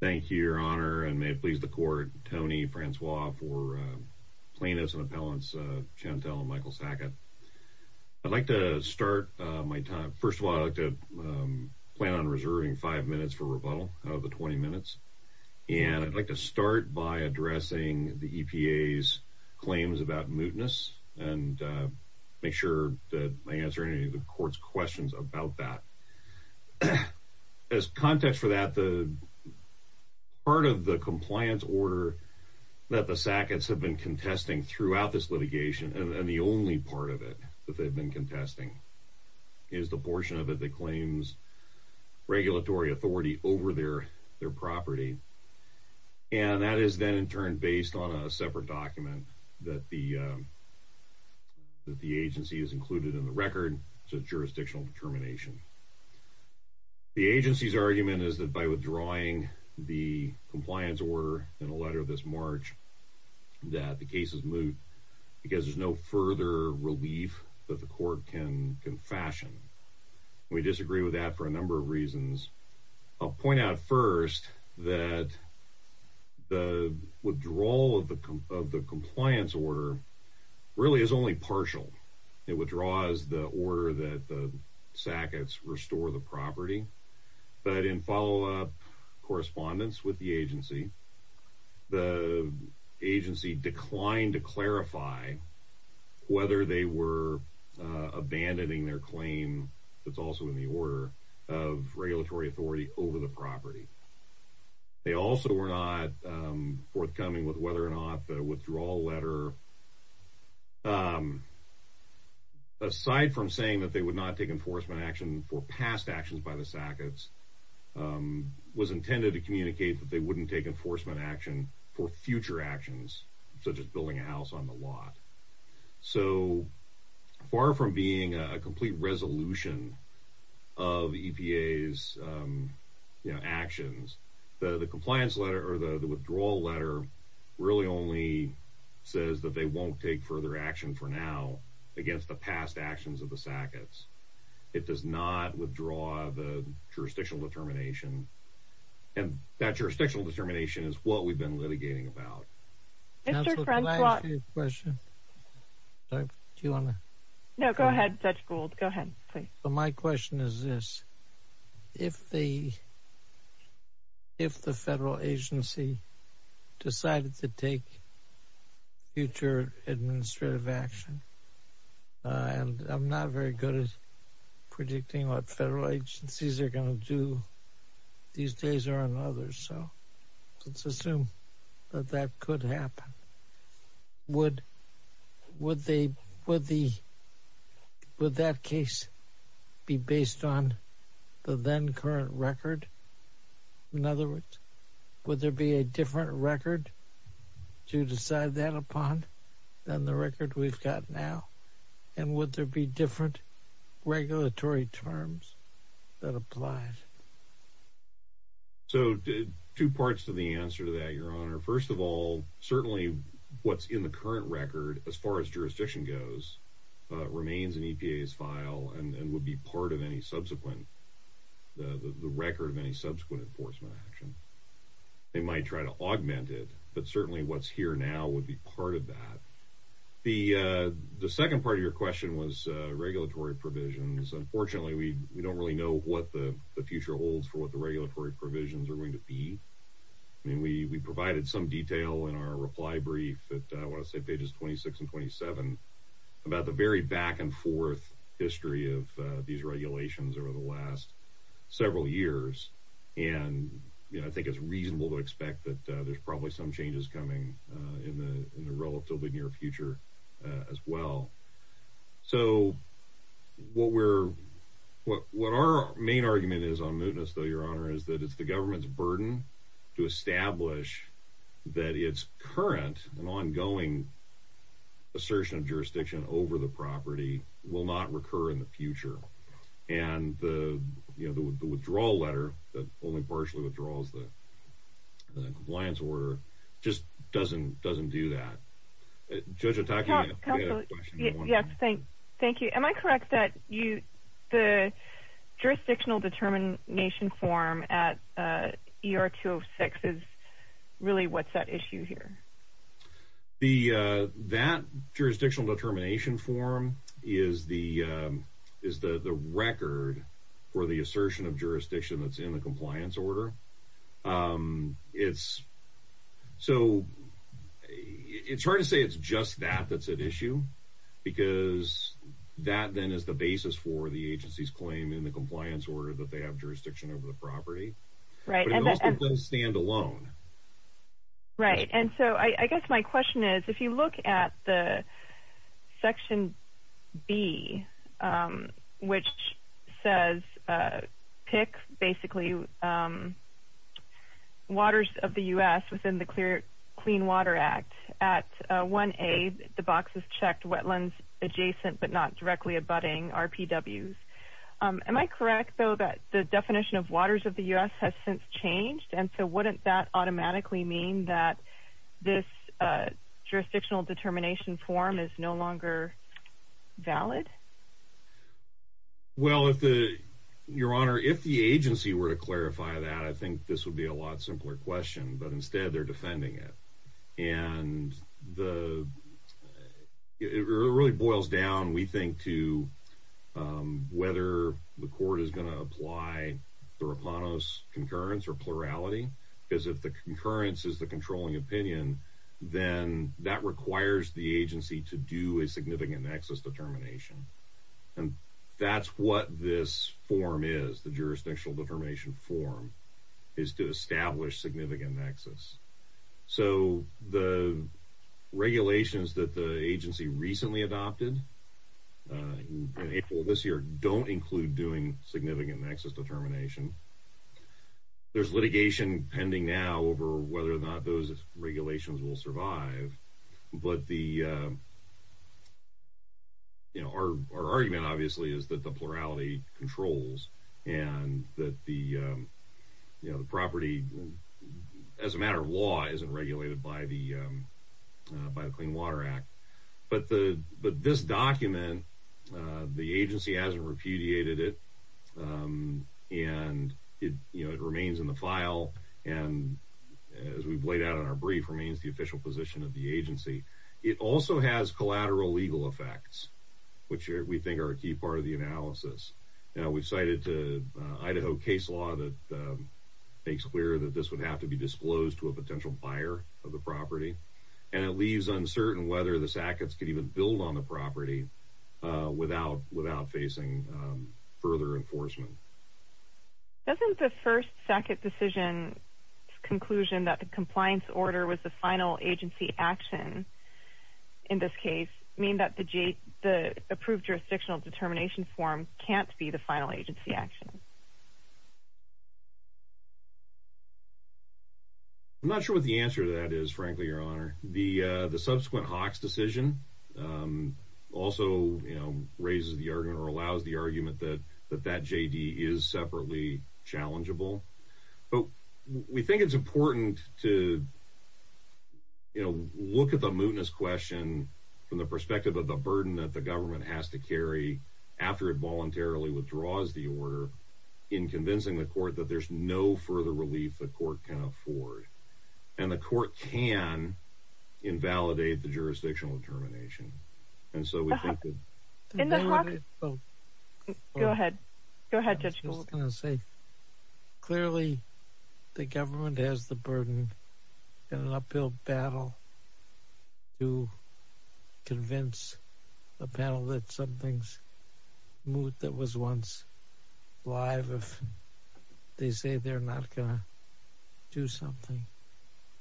Thank you your honor and may it please the court Tony Francois for plaintiffs and appellants Chantel and Michael Sackett. I'd like to start my time first of all I'd like to plan on reserving five minutes for rebuttal of the 20 minutes and I'd like to start by addressing the EPA's claims about mootness and make sure that I answer any of the court's questions about that. As context for that the part of the compliance order that the Sackett's have been contesting throughout this litigation and the only part of it that they've been contesting is the portion of it that claims regulatory authority over their property and that is then in turn based on a separate document that the that the agency is included in the record it's a jurisdictional determination. The agency's by withdrawing the compliance order in a letter this March that the case is moot because there's no further relief that the court can can fashion. We disagree with that for a number of reasons. I'll point out first that the withdrawal of the compliance order really is only partial. It withdraws the order that the Sackett's restore the property but in follow-up correspondence with the agency the agency declined to clarify whether they were abandoning their claim that's also in the order of regulatory authority over the property. They also were not forthcoming with whether or not the withdrawal letter aside from saying that they would not take enforcement action for past actions by the Sackett's was intended to communicate that they wouldn't take enforcement action for future actions such as building a house on the lot. So the compliance letter or the withdrawal letter really only says that they won't take further action for now against the past actions of the Sackett's. It does not withdraw the jurisdictional determination and that jurisdictional determination is what we've been litigating about. Mr. Frenslaw. Counselor, can I ask you a question? Do you want to? No, go ahead, Judge Gould. Go ahead, please. So my question is this. If the if the federal agency decided to take future administrative action and I'm not very good at predicting what federal agencies are going to do these days or on others. So let's assume that that could happen. Would would they with the with that case be based on the then current record? In other words, would there be a different record to decide that upon than the record we've got now? And would there be different regulatory terms that applied? So two parts to the answer to that, Your Honor. First of all, certainly what's in the current record as far as jurisdiction goes remains in EPA's file and would be part of any subsequent the record of any subsequent enforcement action. They might try to augment it, but certainly what's here now would be part of that. The second part of your question was regulatory provisions. Unfortunately, we don't really know what the future holds for what the regulatory provisions are going to be. I mean, we provided some detail in our reply brief that I want to say pages 26 and 27 about the very back and forth history of these regulations over the last several years. And I think it's reasonable to expect that there's probably some changes coming in the relatively near future as well. So what we're what what our main argument is on mootness, though, your honor, is that it's the government's burden to establish that it's current and ongoing assertion of jurisdiction over the property will not recur in the future. And the you know, the withdrawal letter that only partially withdraws the compliance order just doesn't doesn't do that. Judge attacking. Yes. Thank. Thank you. Am I correct that you the jurisdictional determination form at ER 206 is really what's that issue here? The that jurisdictional determination form is the is the record for the it's so it's hard to say it's just that that's at issue because that then is the basis for the agency's claim in the compliance order that they have jurisdiction over the property. Right. Stand alone. Right. And so I guess my basically, um, waters of the U. S. Within the Clear Clean Water Act at one aid, the boxes checked wetlands adjacent but not directly abutting our P. W. Am I correct, though, that the definition of waters of the U. S. Has since changed. And so wouldn't that automatically mean that this jurisdictional determination form is no longer valid? Well, if the your honor, if the agency were to clarify that, I think this would be a lot simpler question. But instead, they're defending it. And the it really boils down, we think, to, um, whether the court is going to apply the Rapanos concurrence or plurality, because if the concurrence is the controlling opinion, then that requires the agency to do a significant nexus determination. And that's what this form is. The jurisdictional determination form is to establish significant nexus. So the regulations that the agency recently adopted April this year don't include doing significant nexus determination. There's litigation pending now over whether or not those regulations will survive. But the you know, our argument, obviously, is that the plurality controls and that the, you know, the property as a matter of law isn't regulated by the by the Clean Water Act. But the but this document, the agency hasn't repudiated it. Um, and you know, it remains in the file. And as we've laid out in our brief remains the official position of the agency. It also has collateral legal effects, which we think are a key part of the analysis. Now we've cited to Idaho case law that makes clear that this would have to be disclosed to a potential buyer of the property, and it leaves uncertain whether the Sackett's could even build on the property without without facing further enforcement. Doesn't the first Sackett decision conclusion that the compliance order was the final agency action in this case mean that the G, the approved jurisdictional determination form can't be the final agency action? I'm not sure what the answer to that is, frankly, your honor. The subsequent Hawks decision, um, also, you know, raises the argument or allows the argument that that that J. D. Is separately challengeable. But we think it's important to, you know, look at the mootness question from the perspective of the burden that the government has to carry after it voluntarily withdraws the order in convincing the court that there's no further relief the court can afford, and the court can invalidate the jurisdictional determination. And so we think that in the clock, well, go ahead. Go ahead. Just gonna say clearly, the government has the burden in an uphill battle to convince a panel that something's moot that was once live. They say they're not gonna do something.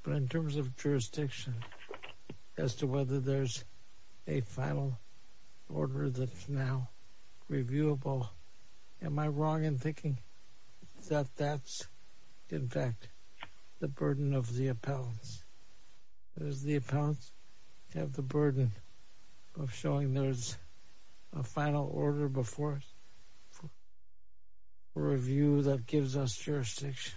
But in terms of jurisdiction as to whether there's a final order that's now reviewable, am I wrong in thinking that that's, in fact, the burden of the appellants? There's the appellants have the burden of showing there's a final order before review that gives us jurisdiction.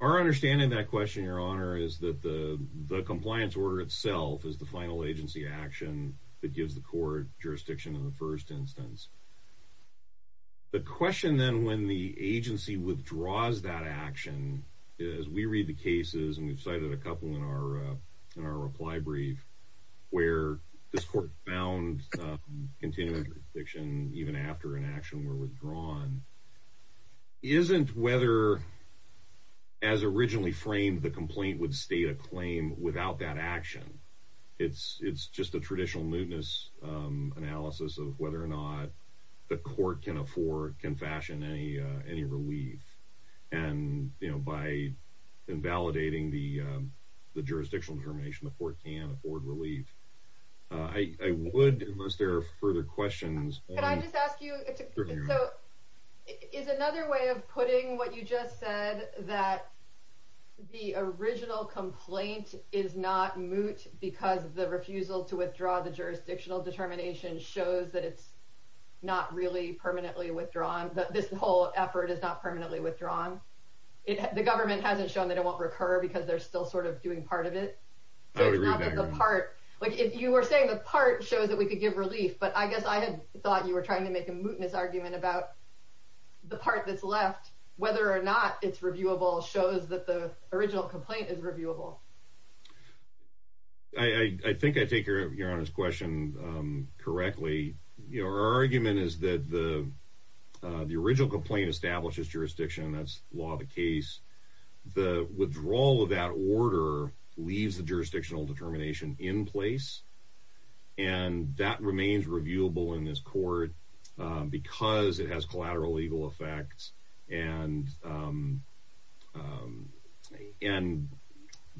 Our understanding that question, your honor, is that the compliance order itself is the final agency action that gives the court jurisdiction in the first instance. The question, then, when the agency withdraws that action is we read the cases, and we've cited a couple in our in our reply brief where this court found continuing fiction even after an action were withdrawn. Isn't whether as originally framed, the complaint would state a claim without that action. It's it's just a traditional mootness analysis of whether or not the court can afford confession any any relief. And, you know, by invalidating the jurisdictional information, the court can afford relief. I would most there are further questions. Can I just ask you? So is another way of putting what you just said that the original complaint is not moot because the refusal to withdraw the jurisdictional determination shows that it's not really permanently withdrawn. This whole effort is not permanently withdrawn. The government hasn't shown that it won't recur because they're still sort of doing part of it. So it's not the part like if you were saying the part shows that we could give relief. But I guess I had thought you were trying to make a mootness argument about the part that's left. Whether or not it's reviewable shows that the original complaint is reviewable. I think I take your your honor's question correctly. Your argument is that the the original complaint establishes jurisdiction. That's law. The case, the withdrawal of that order leaves the jurisdictional determination in place. And that remains reviewable in this court because it has collateral legal effects. And, um, um, and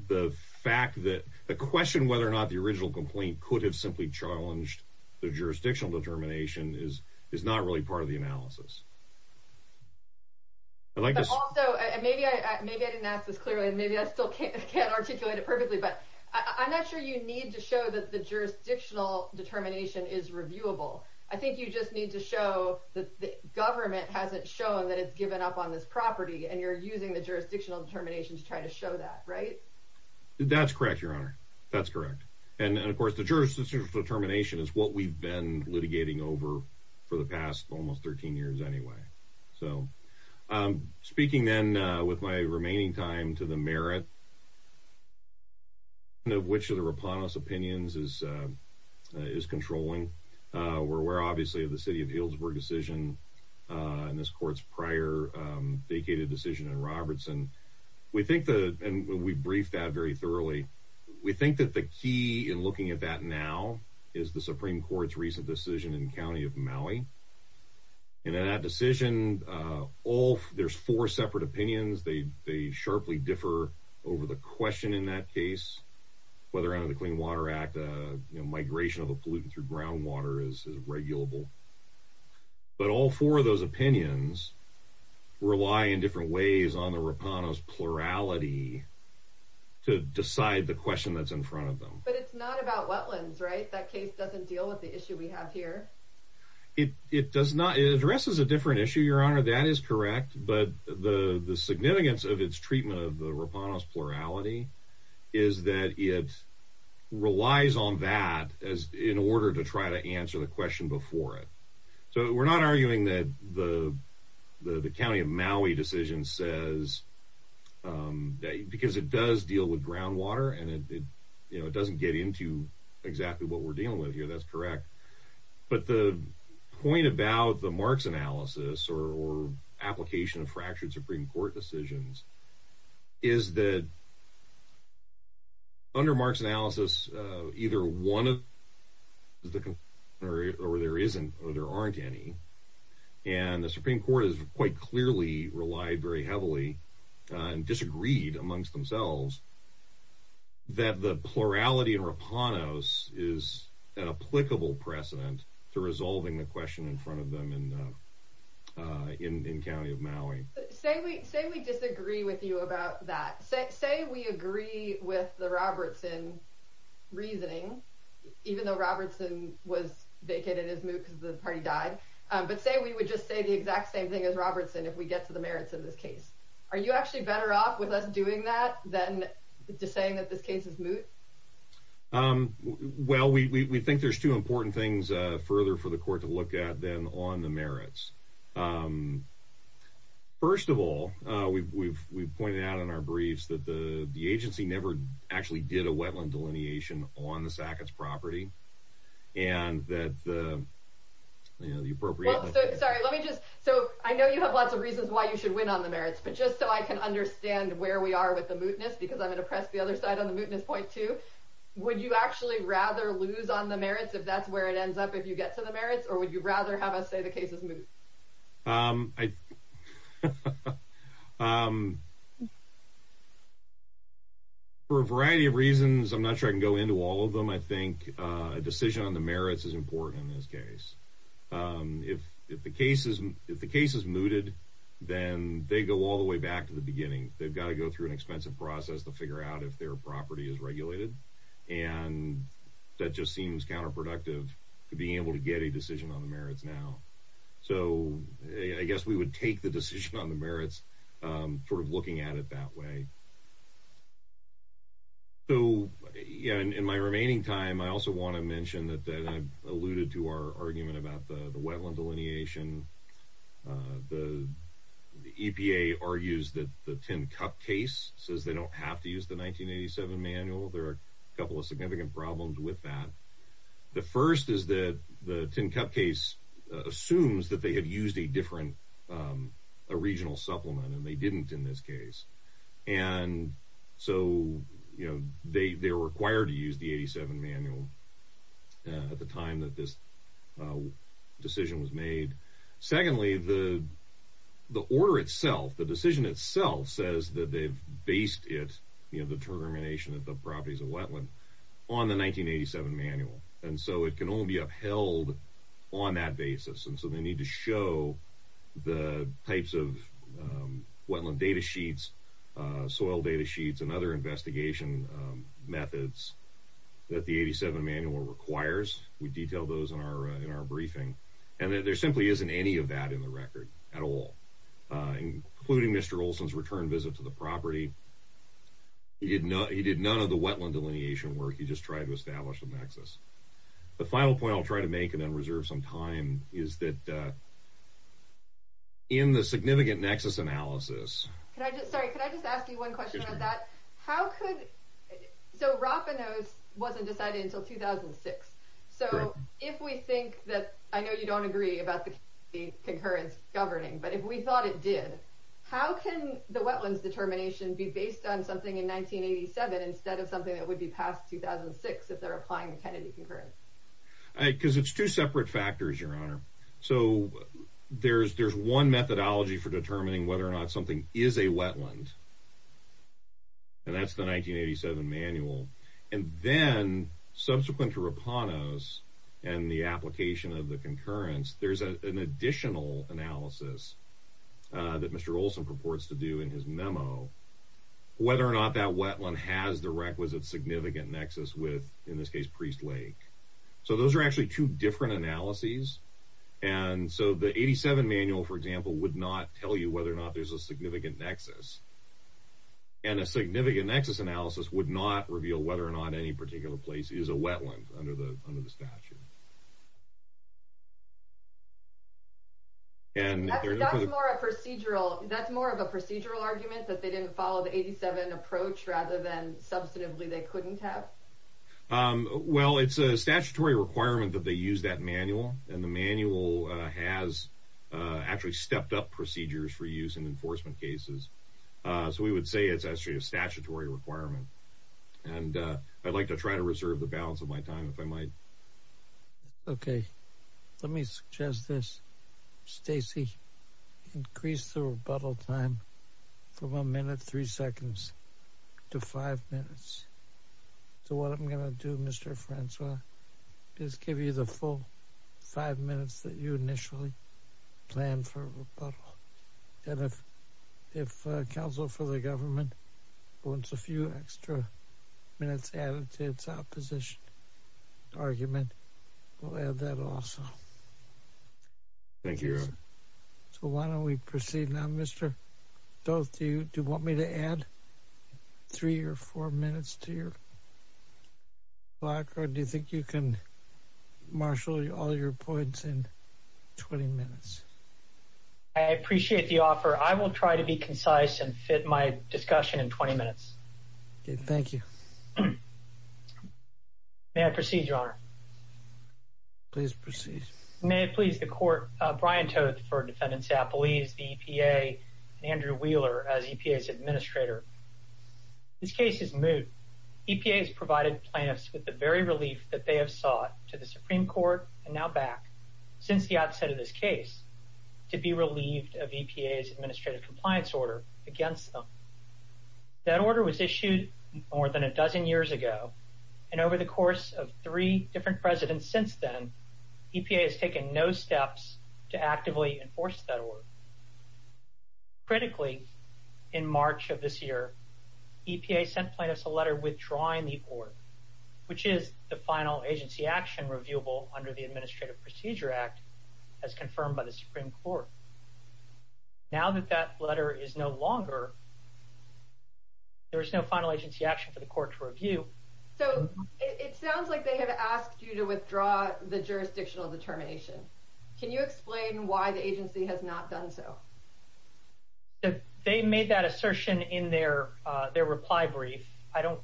the fact that the question whether or not the original complaint could have simply challenged the jurisdictional determination is is not really part of the analysis. I like this. So maybe I maybe I didn't ask this clearly. Maybe I still can't articulate it perfectly. But I'm not sure you need to show that the jurisdictional determination is reviewable. I think you just need to show that the government hasn't shown that it's given up on this property and you're using the jurisdictional determination to try to show that, right? That's correct, Your Honor. That's correct. And, of course, the jurisdiction determination is what we've been litigating over for the past almost 13 years anyway. So, um, speaking then with my remaining time to the merit of which of the Repanis opinions is is controlling. We're aware, obviously, of the city of Healdsburg decision on this court's prior vacated decision in Robertson. We think that we briefed that very thoroughly. We think that the key in looking at that now is the Supreme Court's recent decision in County of Maui. And in that decision, all there's four separate opinions. They sharply differ over the question in that case, whether under the Clean Water Act migration of a pollutant through groundwater is regulable. But all four of those opinions rely in different ways on the Repanis plurality to decide the question that's in front of them. But it's not about wetlands, right? That case doesn't deal with the issue we have here. It does not. It addresses a different issue, Your Honor. That is correct. But the significance of its treatment of the Repanis plurality is that it relies on that as in order to try to answer the question before it. So we're not arguing that the the county of Maui decision says, um, because it does deal with groundwater and it doesn't get into exactly what we're dealing with here. That's correct. But the point about the marks analysis or application of fractured Supreme Court decisions is that under marks analysis, either one of the or there isn't or there aren't any. And the Supreme Court is quite clearly relied very heavily on disagreed amongst themselves that the plurality of Repanis is an applicable precedent to resolving the question in front of them in in in county of Maui. Say we say we disagree with you about that. Say we agree with the Robertson reasoning, even though Robertson was vacated his moot because the party died. But say we would just say the exact same thing as Robertson. If we get to the merits of this case, are you actually better off with us doing that than just saying that this case is moot? Um, well, we think there's two important things further for the court to look at them on the merits. Um, first of all, we've we've we've pointed out in our briefs that the agency never actually did a wetland delineation on the Sackett's property and that, uh, you know, the appropriate. Sorry, let me just so I know you have lots of reasons why you should win on the merits. But just so I can understand where we are with the mootness because I'm gonna press the other side on the mootness point to would you actually rather lose on the merits if that's up? If you get to the merits, or would you rather have us say the case is moot? Um, I um, for a variety of reasons, I'm not sure I can go into all of them. I think a decision on the merits is important in this case. Um, if if the case is if the case is mooted, then they go all the way back to the beginning. They've got to go through an expensive process to figure out if their property is being able to get a decision on the merits now. So I guess we would take the decision on the merits, um, sort of looking at it that way. So, you know, in my remaining time, I also want to mention that I alluded to our argument about the wetland delineation. Uh, the EPA argues that the 10 cup case says they don't have to use the 1987 manual. There are a couple of the 10 cup case assumes that they have used a different, um, a regional supplement, and they didn't in this case. And so, you know, they they're required to use the 87 manual at the time that this, uh, decision was made. Secondly, the the order itself, the decision itself says that they've based it, you know, the termination of the properties of wetland on the 1987 manual, and so it can only be upheld on that basis. And so they need to show the types of, um, wetland data sheets, soil data sheets and other investigation methods that the 87 manual requires. We detail those in our in our briefing, and there simply isn't any of that in the record at all, including Mr Olson's return visit to the property. He did not. He did none of the wetland delineation work. He just tried to do the analysis. The final point I'll try to make and then reserve some time is that, uh, in the significant nexus analysis, can I just sorry, could I just ask you one question on that? How could so Rapa knows wasn't decided until 2006. So if we think that I know you don't agree about the concurrence governing, but if we thought it did, how can the wetlands determination be based on something in 1987 instead of something that would be past 2006 if they're applying the Kennedy concurrence? Because it's two separate factors, Your Honor. So there's there's one methodology for determining whether or not something is a wetland, and that's the 1987 manual. And then subsequent to Rapanos and the application of the concurrence, there's an additional analysis that Mr Olson purports to do in his memo whether or not that wetland has the requisite significant nexus with, in this case, Priest Lake. So those are actually two different analyses. And so the 87 manual, for example, would not tell you whether or not there's a significant nexus. And a significant nexus analysis would not reveal whether or not any particular place is a wetland under the under the statute. And that's more of a procedural argument that they didn't follow the 87 approach rather than substantively they couldn't have? Well, it's a statutory requirement that they use that manual, and the manual has actually stepped up procedures for use in enforcement cases. So we would say it's actually a statutory requirement. And I'd like to try to reserve the balance of my time if I might. Okay, let me suggest this. Stacey, increase the rebuttal time from a minute, three seconds to five minutes. So what I'm gonna do, Mr Francois, is give you the full five minutes that you initially planned for rebuttal. And if if counsel for the government wants a few extra minutes added to its opposition argument, we'll add that also. Thank you. So why don't we proceed now, Mr. Doeth, do you want me to add three or four minutes to your block? Or do you think you can marshal all your points in 20 minutes? I appreciate the offer. I will try to be concise and fit my discussion in 20 minutes. Okay, thank you. May I proceed, Your Honor? Please proceed. May it please the court. Brian Toedt for Defendants Appalese, the EPA and Andrew Wheeler as EPA's administrator. This case is moot. EPA has provided plaintiffs with the very relief that they have sought to the Supreme Court and now back since the outset of this case to be relieved of EPA's administrative compliance order against them. That order was issued more than a dozen years ago, and over the course of three different presidents since then, EPA has taken no steps to actively enforce that order. Critically, in March of this year, EPA sent plaintiffs a letter withdrawing the order, which is the final agency action reviewable under the Administrative Procedure Act, as confirmed by the Supreme Court. Now that that letter is no longer, there is no final agency action for the court to review. So it sounds like they have asked you to withdraw the jurisdictional determination. Can you explain why the agency has not done so? They made that assertion in their their reply brief. I don't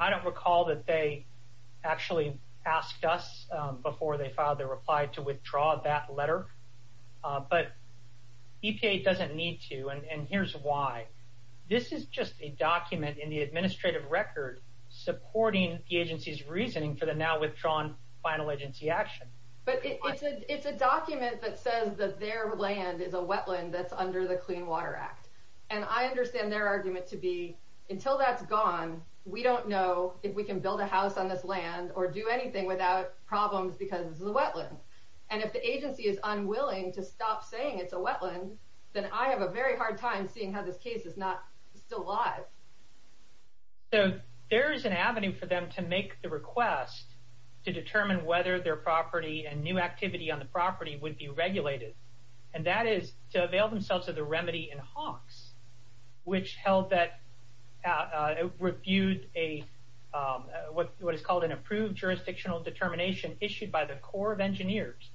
I don't recall that they actually asked us before they filed their reply to withdraw that letter. But EPA doesn't need to. And here's why. This is just a document in the administrative record supporting the agency's reasoning for the now withdrawn final agency action. But it's a document that says that their land is a wetland that's under the Clean Water Act. And I understand their argument to be until that's gone. We don't know if we can build a house on this land or do anything without problems because the wetland and if the agency is unwilling to stop saying it's a wetland, then I have a very hard time seeing how this case is not still alive. So there is an avenue for them to make the request to determine whether their property and new activity on the property would be regulated. And that is to avail themselves of the remedy in Hawks, which held that reviewed a what what is called an approved jurisdictional determination issued by the Corps of Engineers.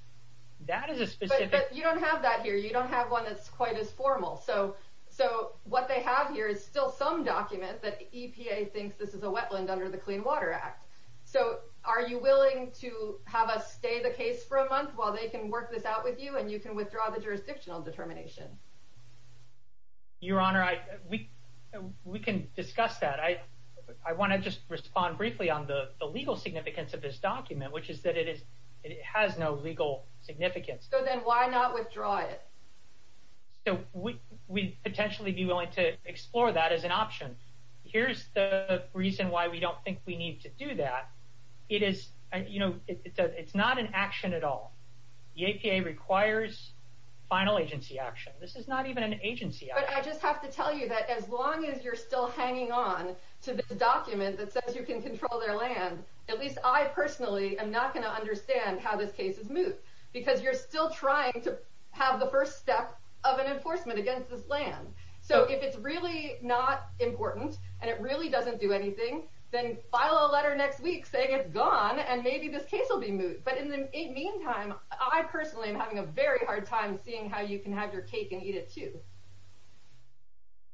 That is a specific you don't have that here. You don't have one that's quite as formal. So so what they have here is still some document that EPA thinks this is a wetland under the Clean Water Act. So are you willing to have us stay the case for a month while they can work this out with you and you can withdraw the jurisdictional determination? Your Honor, I we we can discuss that. I I want to just respond briefly on the legal significance of this document, which is that it is. It has no legal significance. So then why not withdraw it? So we we potentially be willing to explore that as an option. Here's the reason why we don't think we need to do that. It is, you know, it's not an action at all. The EPA requires final agency action. This is not even an agency. I just have to tell you that as long as you're still hanging on to this document that says you can control their land, at least I personally am not going to understand how this case is moved because you're still trying to have the first step of an enforcement against this land. So if it's really not important and it really doesn't do anything, then file a letter next week saying it's gone and maybe this case will be moved. But in the meantime, I personally am having a very hard time seeing how you can have your cake and eat it, too.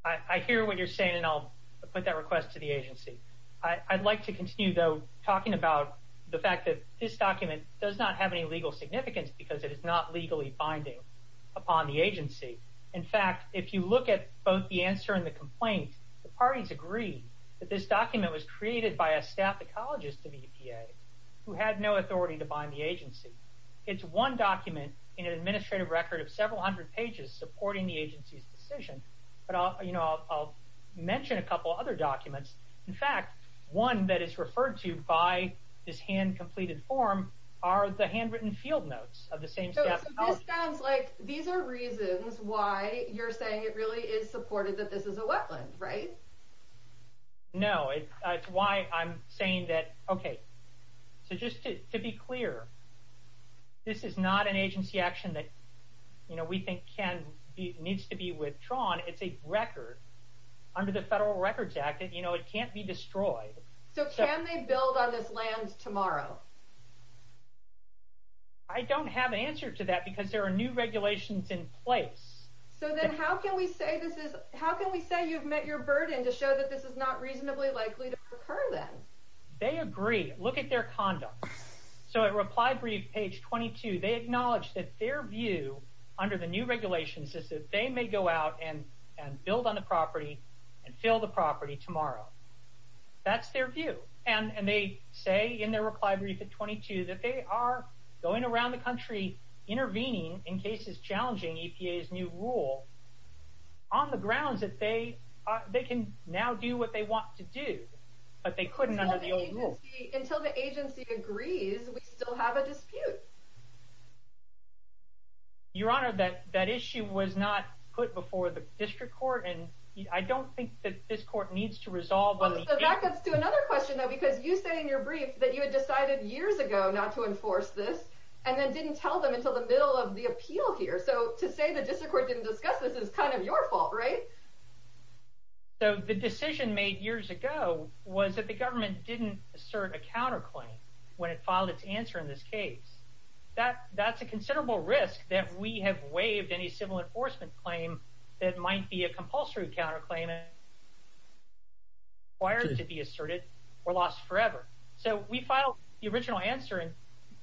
I hear what you're saying, and I'll put that request to the agency. I'd like to continue, though, talking about the fact that this document does not have any legal significance because it is not legally binding upon the agency. In fact, if you look at both the answer and the complaint, the parties agree that this document was created by a staff ecologist of EPA who had no authority to bind the agency. It's one document in an administrative record of several hundred pages supporting the agency's decision. But I'll mention a couple other documents. In fact, one that is referred to by this hand-completed form are the handwritten field notes of the same staff ecologist. So this sounds like these are reasons why you're saying it really is supported that this is a wetland, right? No. It's why I'm saying that, okay, so just to be clear, this is not an agency action that we think needs to be withdrawn. It's a record. Under the Federal Records Act, it can't be destroyed. So can they build on this land tomorrow? I don't have an answer to that because there are new regulations in place. So then how can we say you've met your burden to show that this is not reasonably likely to occur then? They agree. Look at their conduct. So at Reply Brief, page 22, they acknowledge that their view under the new regulations is that they may go out and build on the property and fill the property tomorrow. That's their view. And they say in their Reply Brief at 22 that they are going around the country intervening in cases challenging EPA's new rule on the grounds that they can now do what they want to do, but they couldn't under the old rule. Until the agency agrees, we still have a dispute. Your Honor, that issue was not put before the district court, and I don't think that this court needs to resolve on the issue. Well, so that gets to another question, though, because you say in your brief that you had decided years ago not to enforce this and then didn't tell them until the middle of the appeal here. So to say the district court didn't discuss this is kind of your fault, right? So the decision made years ago was that the government didn't assert a counterclaim when it filed its answer in this case. That's a considerable risk that we have waived any civil enforcement claim that might be a compulsory counterclaim and required to be asserted or lost forever. So we filed the original answer, and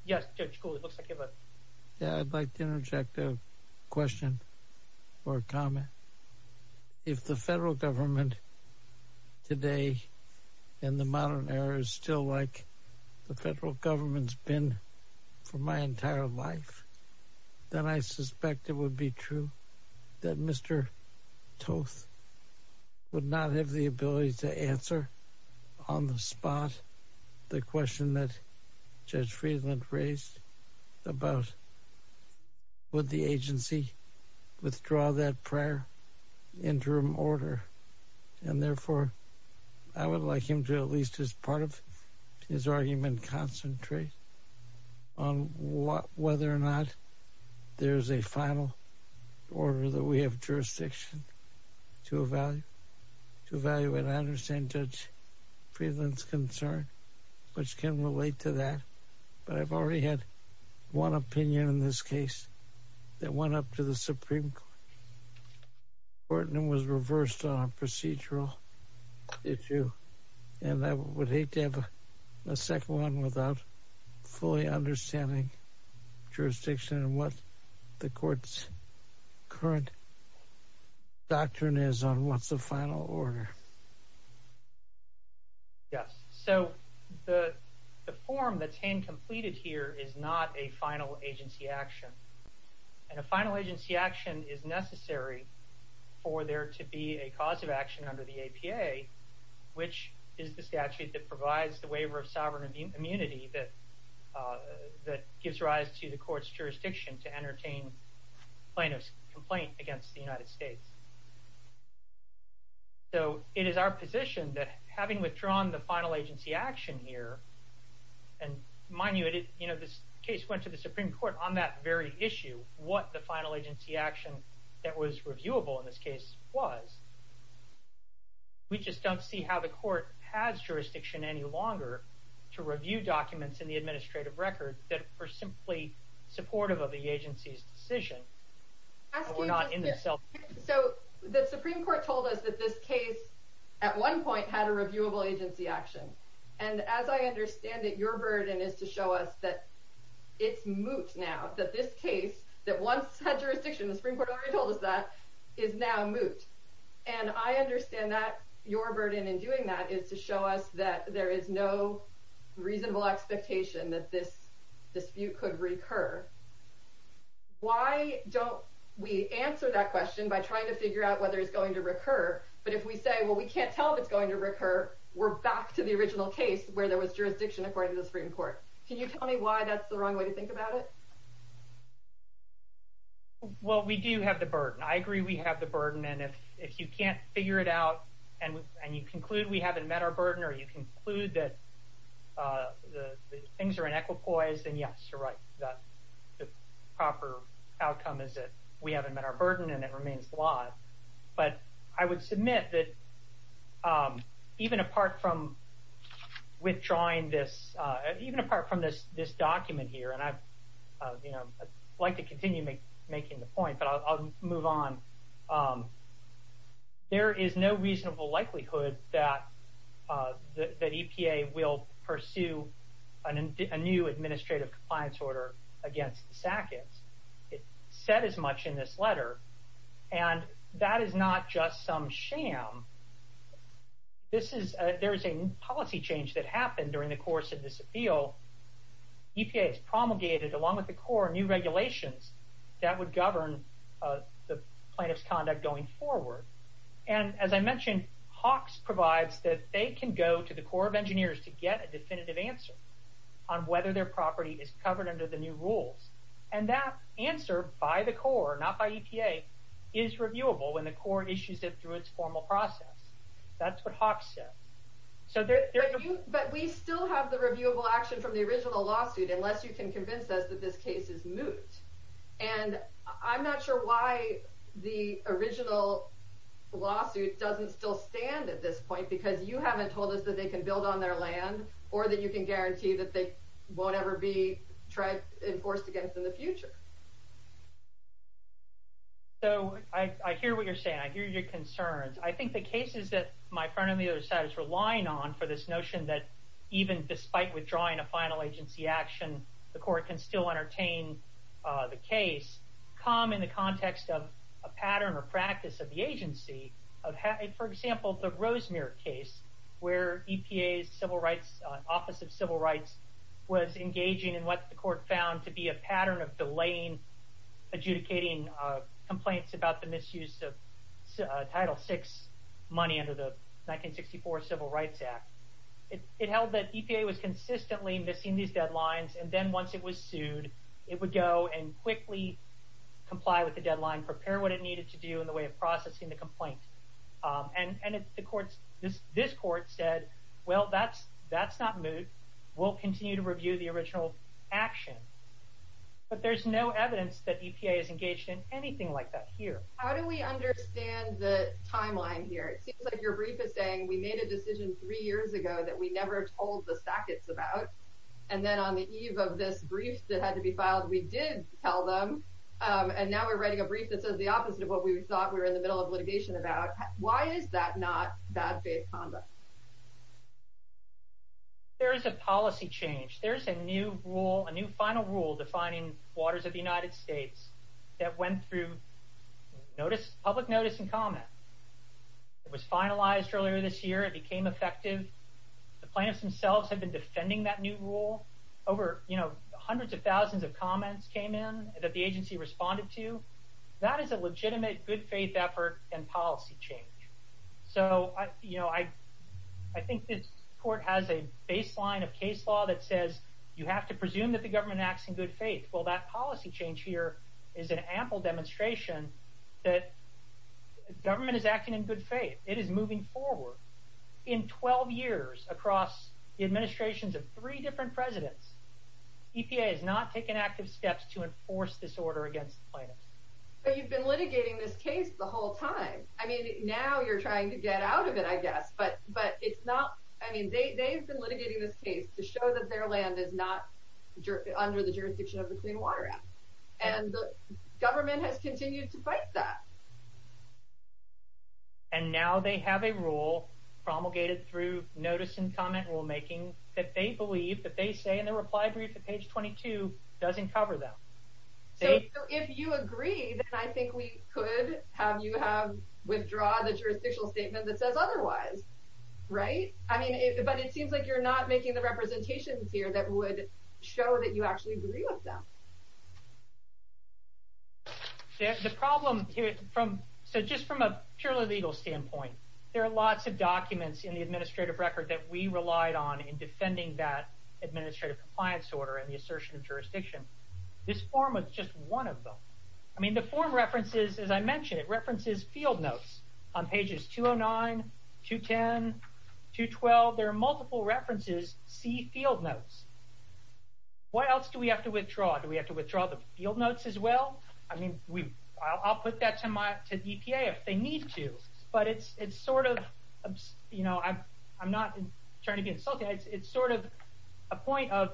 yes, Judge Cooley, it looks like you have a... If the federal government today in the modern era is still like the federal government's been for my entire life, then I suspect it would be true that Mr. Toth would not have the ability to answer on the spot the question that Judge Friedland's concern, which can relate to that. But I've already had one opinion in this case that went up to the Supreme Court and was reversed on a procedural issue. And I would hate to have a second one without fully understanding jurisdiction and what the court's current doctrine is on what's the final order. Yes. So the form that's hand-completed here is not a final agency action. And a final agency action is necessary for there to be a cause of action under the APA, which is the statute that provides the waiver of sovereign immunity that gives rise to the court's jurisdiction to entertain plaintiff's complaint against the United States. So it is our position that having withdrawn the final agency action here, and mind you, this case went to the Supreme Court on that very issue, what the final agency action that was reviewable in this case was. We just don't see how the court has jurisdiction any longer to review documents in the administrative record that were simply supportive of the agency's decision. We're not in this. So the Supreme Court told us that this case at one point had a reviewable agency action. And as I understand it, your burden is to show us that it's moot now, that this case, that once had jurisdiction, the Supreme Court already told us that, is now moot. And I understand that your burden in doing that is to show us that there is no reasonable expectation that this don't, we answer that question by trying to figure out whether it's going to recur. But if we say, well, we can't tell if it's going to recur, we're back to the original case where there was jurisdiction according to the Supreme Court. Can you tell me why that's the wrong way to think about it? Well, we do have the burden. I agree we have the burden. And if you can't figure it out and you conclude we haven't met our burden, or you conclude that things are then yes, you're right. The proper outcome is that we haven't met our burden and it remains the law. But I would submit that even apart from withdrawing this, even apart from this document here, and I'd like to continue making the point, but I'll move on. There is no reasonable likelihood that the EPA will pursue a new administrative compliance order against the SACIS. It's said as much in this letter, and that is not just some sham. There is a policy change that happened during the course of this appeal. EPA has promulgated, along with the Corps, new regulations that would govern the plaintiff's conduct going forward. And as I mentioned, Hawks provides that they can go to the Corps of Engineers to get a definitive answer on whether their property is covered under the new rules. And that answer by the Corps, not by EPA, is reviewable when the Corps issues it through its formal process. That's what Hawks says. But we still have the reviewable action from the original lawsuit unless you can convince us this case is moot. And I'm not sure why the original lawsuit doesn't still stand at this point because you haven't told us that they can build on their land or that you can guarantee that they won't ever be enforced against in the future. So I hear what you're saying. I hear your concerns. I think the cases that my friend on the other side is relying on for this notion that even despite withdrawing a final agency action, the Court can still entertain the case, come in the context of a pattern or practice of the agency. For example, the Rosemere case, where EPA's civil rights, Office of Civil Rights, was engaging in what the Court found to be a pattern of delaying adjudicating complaints about the misuse of Title VI money under the EPA. EPA was consistently missing these deadlines. And then once it was sued, it would go and quickly comply with the deadline, prepare what it needed to do in the way of processing the complaint. And this Court said, well, that's not moot. We'll continue to review the original action. But there's no evidence that EPA is engaged in anything like that here. How do we understand the timeline here? It seems like your brief is saying we made a decision three years ago that we never told the Sacketts about. And then on the eve of this brief that had to be filed, we did tell them. And now we're writing a brief that says the opposite of what we thought we were in the middle of litigation about. Why is that not bad faith conduct? There is a policy change. There's a new rule, a new final rule defining waters of the United States that went through public notice and comment. It was finalized earlier this year. It became effective. The plaintiffs themselves have been defending that new rule. Over hundreds of thousands of comments came in that the agency responded to. That is a legitimate good faith effort and policy change. So I think this Court has a baseline of case law that says you have to presume that the government acts in good faith. Well, that policy change here is an ample demonstration that government is acting in good faith. It is moving forward. In 12 years across the administrations of three different presidents, EPA has not taken active steps to enforce this order against the plaintiffs. But you've been litigating this case the whole time. I mean, now you're trying to get out of it, I guess. But it's not... I mean, they've been litigating this case to show that their land is not under the jurisdiction of the Clean Water Act. And the government has continued to fight that. And now they have a rule promulgated through notice and comment rulemaking that they believe that they say in the reply brief at page 22 doesn't cover them. So if you agree, then I think we could have you withdraw the jurisdictional statement that says otherwise, right? I mean, but it seems like you're not making the representations here that would show that you actually agree with them. The problem here, so just from a purely legal standpoint, there are lots of documents in the administrative record that we relied on in defending that administrative compliance order and the assertion of jurisdiction. This form was just one of them. I mean, the form references, as I mentioned, it references field notes on pages 209, 210, 212. There are multiple references, see field notes. What else do we have to withdraw? Do we have to withdraw the field notes as well? I mean, I'll put that to EPA if they need to. But it's sort of, you know, I'm not trying to be insulting. It's sort of a point of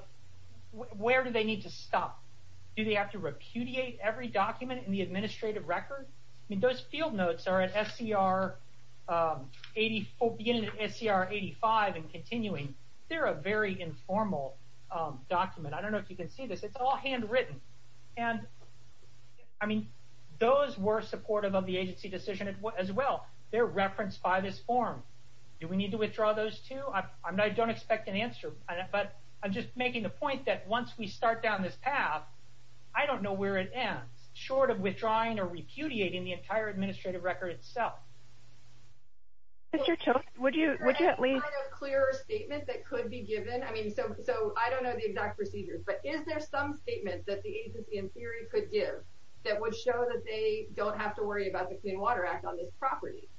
where do they need to stop? Do they have to repudiate every document in the administrative record? I mean, those field notes are at SCR 84, beginning at SCR 85 and continuing. They're a very informal document. I don't know if you can see this. It's all handwritten. And I mean, those were supportive of the agency decision as well. They're referenced by this form. Do we need to withdraw those too? I don't expect an answer, but I'm just making the point that once we start down this path, I don't know where it ends, short of withdrawing or repudiating the entire administrative record itself. Mr. Chilton, would you at least... Is there any kind of clearer statement that could be given? I mean, so I don't know the exact procedures, but is there some statement that the agency in theory could give that would show that they don't have to worry about the Clean Water Act on this property?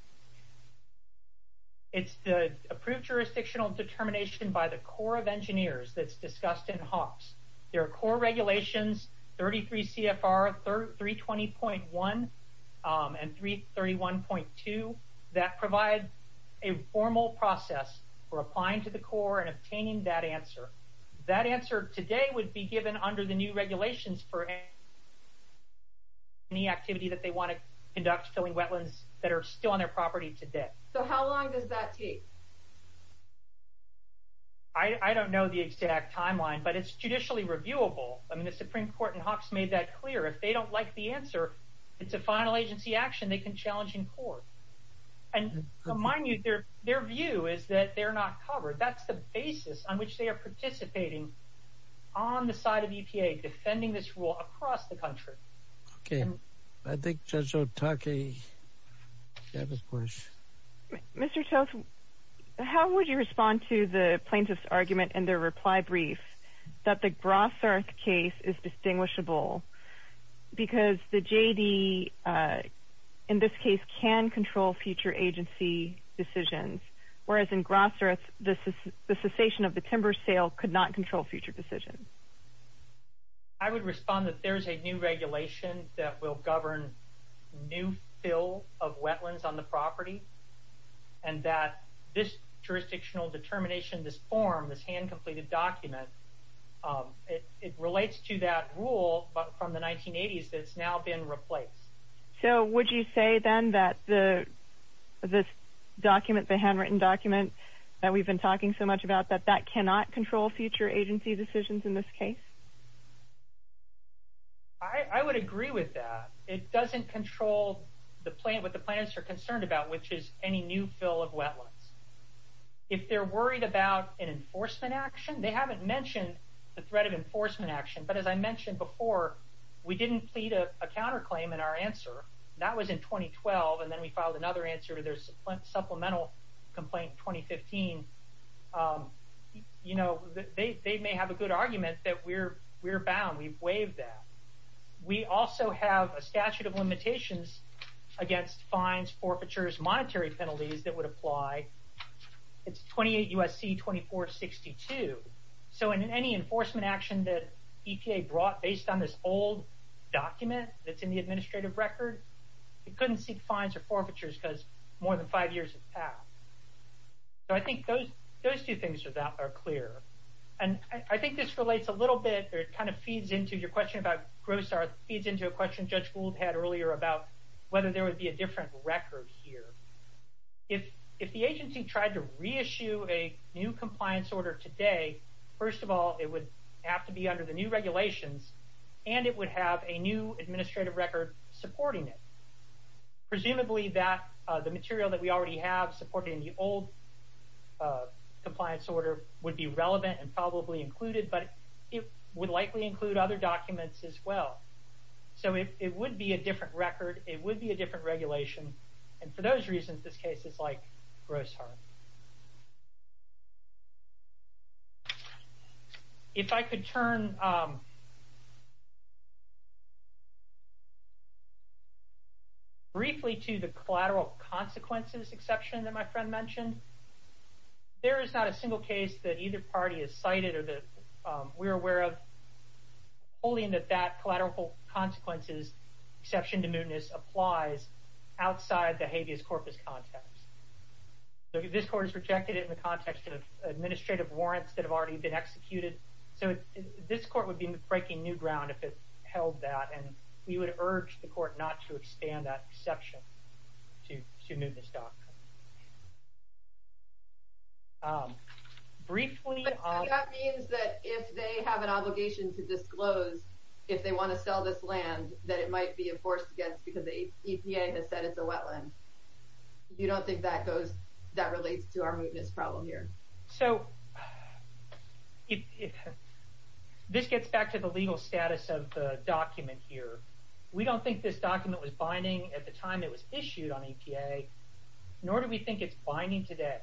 It's the approved jurisdictional determination by the Corps of Engineers that's discussed in 331 and 331.2. That provides a formal process for applying to the Corps and obtaining that answer. That answer today would be given under the new regulations for any activity that they want to conduct filling wetlands that are still on their property today. So how long does that take? I don't know the exact timeline, but it's judicially reviewable. I mean, the Supreme Court in Hawks made that clear. If they don't like the answer, it's a final agency action they can challenge in court. And mind you, their view is that they're not covered. That's the basis on which they are participating on the side of EPA, defending this rule across the country. Okay. I think Judge Otake... Mr. Chilton, how would you respond to the plaintiff's argument in their reply brief that the Grosserth case is distinguishable because the J.D. in this case can control future agency decisions, whereas in Grosserth, the cessation of the timber sale could not control future decisions? I would respond that there's a new regulation that will govern new fill of wetlands on the property and that this jurisdictional determination, this form, this hand-completed document, it relates to that rule from the 1980s that's now been replaced. So would you say then that this document, the handwritten document that we've been talking so much about, that that cannot control future agency decisions in this case? I would agree with that. It doesn't control what the plaintiffs are concerned about, which is any new fill of wetlands. If they're worried about an enforcement action, they haven't mentioned the threat of enforcement action, but as I mentioned before, we didn't plead a counterclaim in our answer. That was in 2012, and then we filed another answer to their supplemental complaint in 2015. They may have a good argument that we're bound. We've waived that. We also have a statute of limitations against fines, forfeitures, monetary penalties that would apply. It's 28 U.S.C. 2462. So in any enforcement action that EPA brought based on this old document that's in the administrative record, it couldn't seek fines or forfeitures because more than five years have passed. So I think those two things are clear. And I think this relates a little bit, or it kind of feeds into your question about gross art, feeds into a question Judge Gould had earlier about whether there would be a different record here. If the agency tried to reissue a new compliance order today, first of all, it would have to be under the new regulations, and it would have a new administrative record supporting it. Presumably that the material that we already have supporting the old compliance order would be relevant and probably included, but it would likely include other documents as well. So it would be a different record. It would be a different regulation. And for those reasons, this case is like gross art. If I could turn briefly to the collateral consequences exception that my friend mentioned, there is not a single case that either party has cited or that we're aware of holding that that collateral consequences exception to mootness applies outside the habeas corpus context. So this court has rejected it in the context of administrative warrants that have already been executed. So this court would be breaking new ground if it held that. And we would urge the court not to expand that exception to mootness doctrine. Briefly, that means that if they have an obligation to disclose if they want to sell this land, that it might be enforced against because the EPA has said it's a wetland. You don't think that relates to our mootness problem here? So this gets back to the legal status of the document here. We don't think this document was binding at the time it was issued on EPA, nor do we think it's binding today.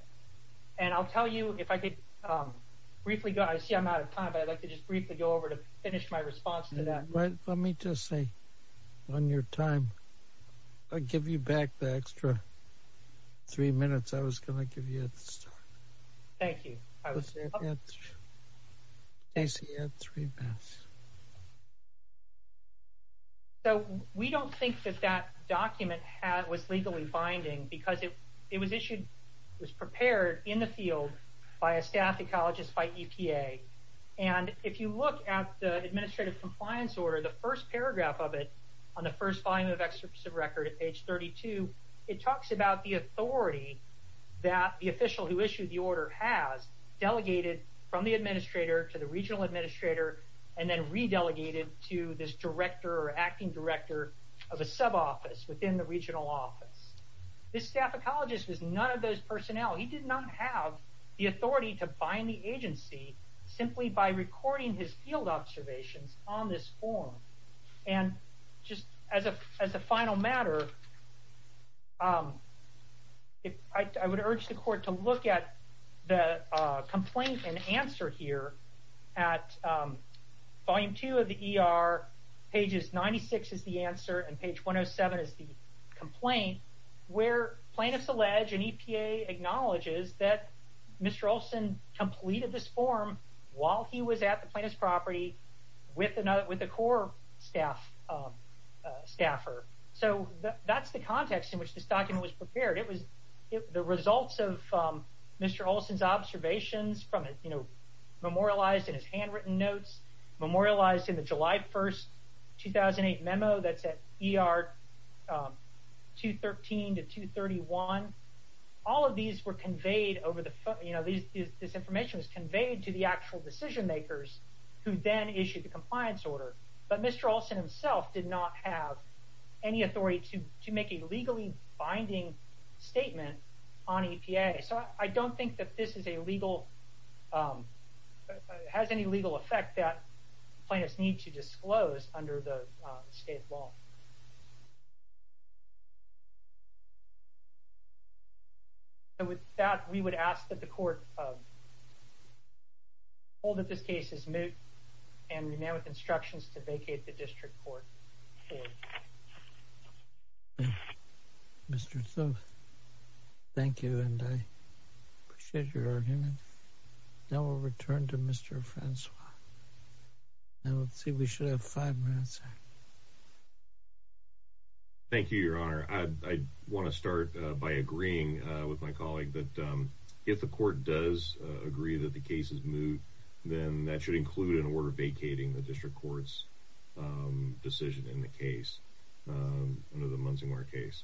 And I'll tell you if I could briefly go, I see I'm out of time, but I'd like to just briefly go over to finish my response to that. Let me just say, on your time, I'll give you back the extra three minutes I was going to give you at the start. Thank you. So we don't think that that document was legally binding because it was issued, was prepared in the field by a staff ecologist by EPA. And if you look at the administrative compliance order, the first paragraph of it on the first volume of excerpts of record at page 32, it talks about the authority that the official who issued the order has delegated from the administrator to the regional administrator and then re-delegated to this director or acting director of a sub-office within the regional office. This staff ecologist was none of those personnel. He did not have the authority to bind the agency simply by recording his field observations on this form. And just as a final matter, I would urge the court to look at the complaint and answer here at volume two of the ER, pages 96 is the answer and page 107 is the complaint, where plaintiffs allege and EPA acknowledges that Mr. Olson completed this form while he was at the plaintiff's property with a core staff staffer. So that's the context in which this document was prepared. It was the results of Mr. Olson's observations from, you know, memorialized in his handwritten notes, memorialized in the July 1st, 2008 memo that's at ER 213 to 231. All of these were conveyed over the, you know, this information was conveyed to the actual decision makers who then issued the compliance order. But Mr. Olson himself did not have any authority to make a legally binding statement on EPA. So I don't think that this is a legal, has any legal effect that plaintiffs need to disclose under the state law. And with that, we would ask that the court hold that this case is moot and remain with instructions to vacate the district court. Mr. So thank you and I appreciate your argument. Now we'll return to Mr. Francois. Now let's see, we should have five minutes. Thank you, Your Honor. I want to start by agreeing with my colleague that if the court does agree that the case is moot, then that should include an order vacating the district court's decision in the case, under the Munsingwar case.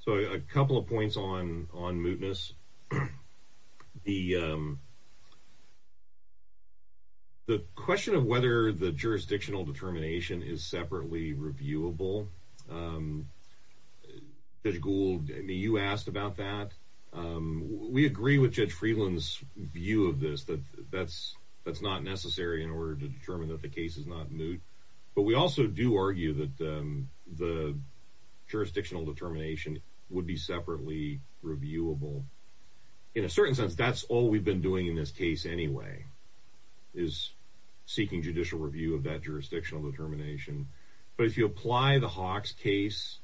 So a couple of points on mootness. The question of whether the jurisdictional determination is separately reviewable, Judge Gould, you asked about that. We agree with Judge Freeland's view of this, that that's not necessary in order to determine that the case is not moot. But we also do argue that the jurisdictional determination would be separately reviewable. In a certain sense, that's all we've been doing in this case anyway, is seeking judicial review of that jurisdictional determination. But if you apply the Hawks case,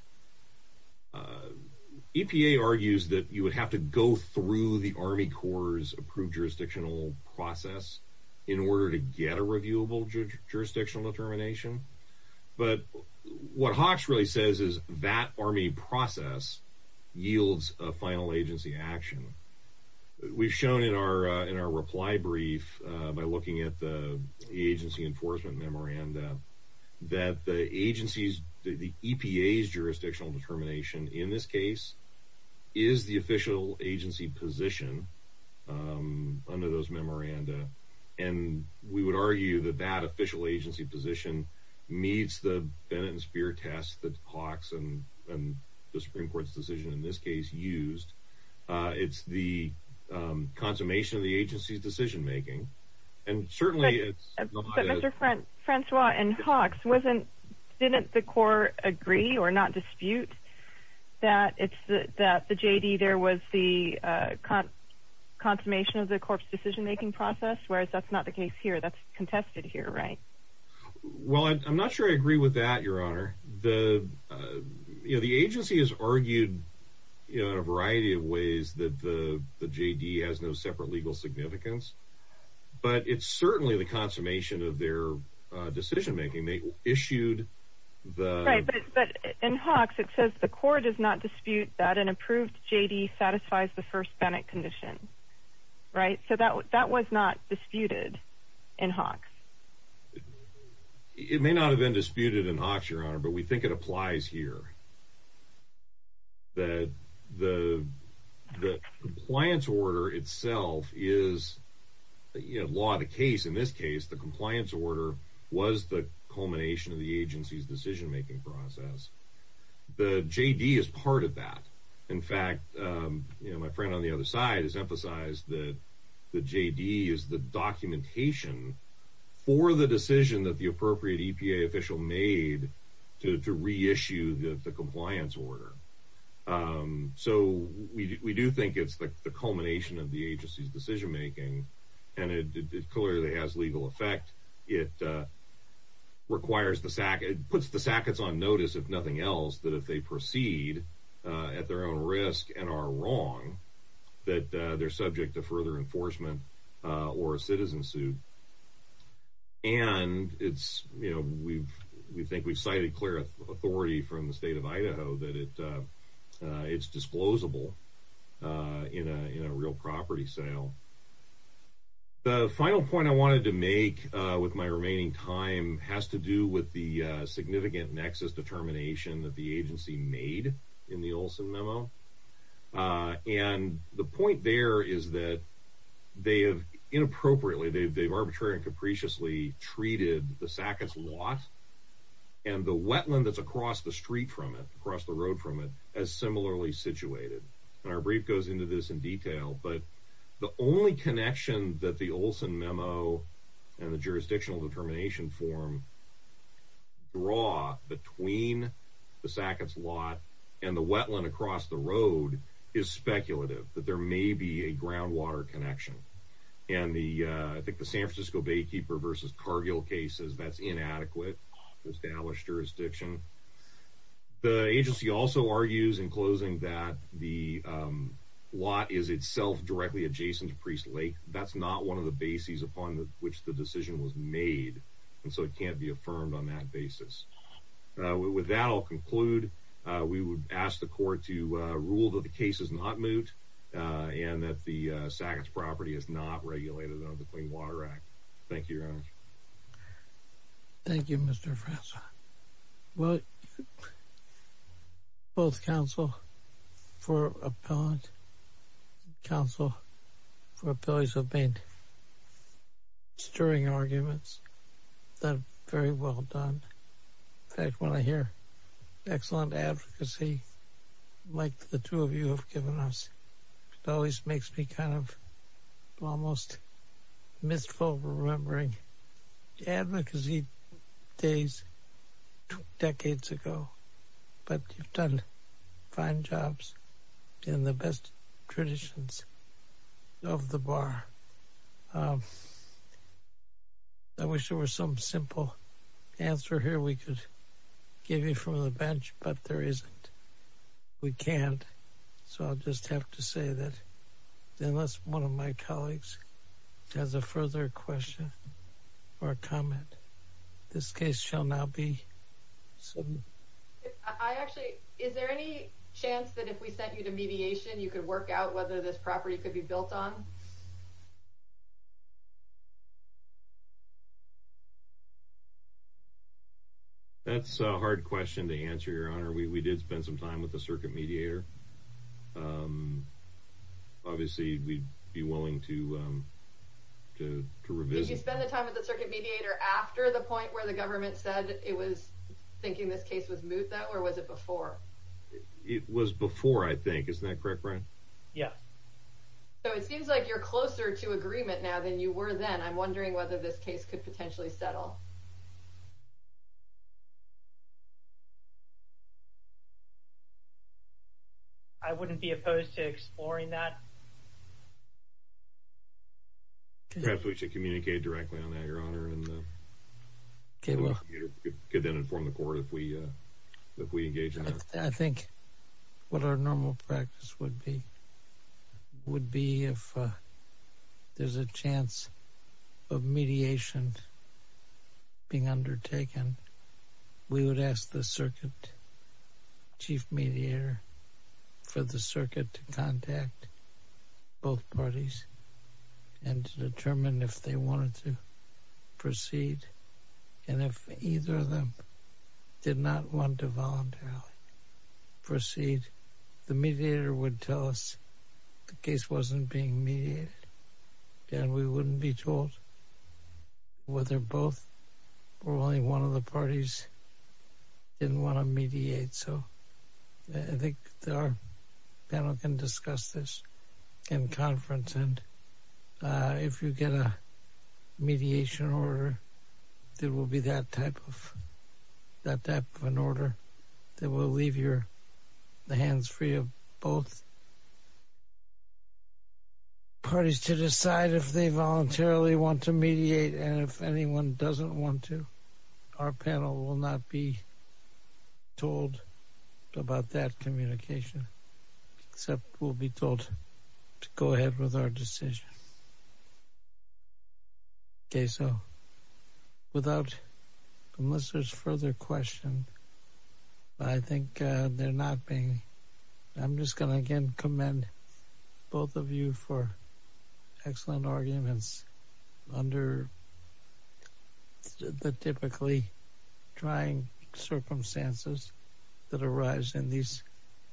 EPA argues that you would have to go through the Army Corps' approved jurisdictional process in order to get a reviewable jurisdictional determination. But what Hawks really says is that Army process yields a final agency action. We've shown in our reply brief, by looking at the agency enforcement memoranda, that the agency's, the EPA's jurisdictional determination, in this case, is the official agency position under those memoranda. And we would argue that that official agency position meets the Bennett and Speer test that Hawks and the Supreme Court's decision in this case used. It's the consummation of the agency's decision making. And certainly it's... Mr. Francois, in Hawks, didn't the court agree or not dispute that the J.D. there was the consummation of the Corps' decision making process, whereas that's not the case here? That's contested here, right? Well, I'm not sure I agree with that, Your Honor. The agency has argued in a variety of ways that the J.D. has no separate legal significance. But it's certainly the consummation of their decision making. They issued the... Right, but in Hawks, it says the court does not dispute that an approved J.D. satisfies the first Bennett condition, right? So that was not disputed in Hawks. It may not have been disputed in Hawks, Your Honor, but we think it applies here. That the compliance order itself is law of the case. In this case, the compliance order was the culmination of the agency's decision making process. The J.D. is part of that. In fact, my friend on the other side has emphasized that the J.D. is the documentation for the decision that the appropriate EPA official made to reissue the compliance order. So we do think it's the culmination of the agency's decision making, and it clearly has legal effect. It requires the... It puts the sackets on notice, if nothing else, that if they proceed at their own risk and are wrong, that they're subject to further enforcement or a citizen suit. And it's, you know, we think we've cited clear authority from the state of Idaho that it's disclosable in a real property sale. The final point I wanted to make with my remaining time has to do with the significant nexus determination that the agency made in the Olson memo. And the point there is that they have inappropriately, they've arbitrarily and capriciously treated the sackets lot and the wetland that's across the street from it, across the road from it, as similarly situated. And our brief goes into this in detail, but the only connection that the Olson memo and the jurisdictional determination form draw between the sackets lot and the wetland across the road is speculative, that there may be a groundwater connection. And the, I think the San Francisco Baykeeper versus Cargill case says that's inadequate for established jurisdiction. The agency also argues in closing that the lot is itself directly adjacent to Priest Lake. That's not one of the bases upon which the decision was to be affirmed on that basis. With that, I'll conclude. We would ask the court to rule that the case is not moot and that the sackets property is not regulated under the Clean Water Act. Thank you, Your Honor. Thank you, Mr. Francois. Well, both counsel for appellant and counsel for appellees have been stirring arguments that are very well done. In fact, when I hear excellent advocacy, like the two of you have given us, it always makes me kind of almost mistful remembering advocacy days decades ago. But you've done fine jobs in the best traditions of the bar. I wish there were some simple answer here we could give you from the bench, but there isn't. We can't. So I'll just have to say that unless one of my colleagues has a further question or comment, this case shall now be submitted. I actually, is there any chance that if we sent you to mediation, you could work out whether this property could be built on? That's a hard question to answer, Your Honor. We did spend some time with the circuit mediator. Obviously, we'd be willing to revisit. Did you spend the time with the circuit mediator after the point where the government said it was thinking this case was moot, or was it before? It was before, I think. Isn't that correct, Brian? Yeah. So it seems like you're closer to agreement now than you were then. I'm wondering whether this case could potentially settle. I wouldn't be opposed to exploring that. Perhaps we should communicate directly on that, Your Honor, and could then inform the court if we engage in that. I think what our normal practice would be, would be if there's a chance of mediation being undertaken, we would ask the circuit chief mediator for the circuit to contact both parties and to determine if they wanted to proceed and if either of them did not want voluntarily proceed. The mediator would tell us the case wasn't being mediated, and we wouldn't be told whether both or only one of the parties didn't want to mediate. So I think our panel can discuss this in conference, and if you get a mediation order, there will be that type of an order that will leave the hands free of both parties to decide if they voluntarily want to mediate, and if anyone doesn't want to, our panel will not be told about that communication, except we'll be told to go with our decision. Okay, so without, unless there's further question, I think they're not being, I'm just going to again commend both of you for excellent arguments under the typically trying circumstances that arise in these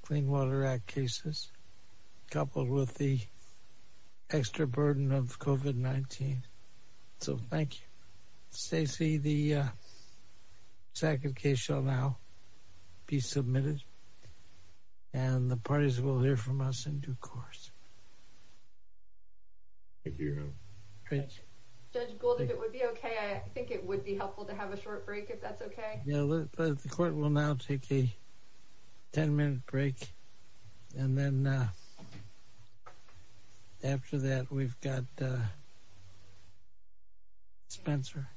Clean Water Act cases, coupled with the extra burden of COVID-19. So thank you. Stacey, the second case shall now be submitted, and the parties will hear from us in due course. Judge Gould, if it would be okay, I think it would be helpful to have a short break, if that's okay. Yeah, the court will now take a 10-minute break, and then after that, we've got Spencer.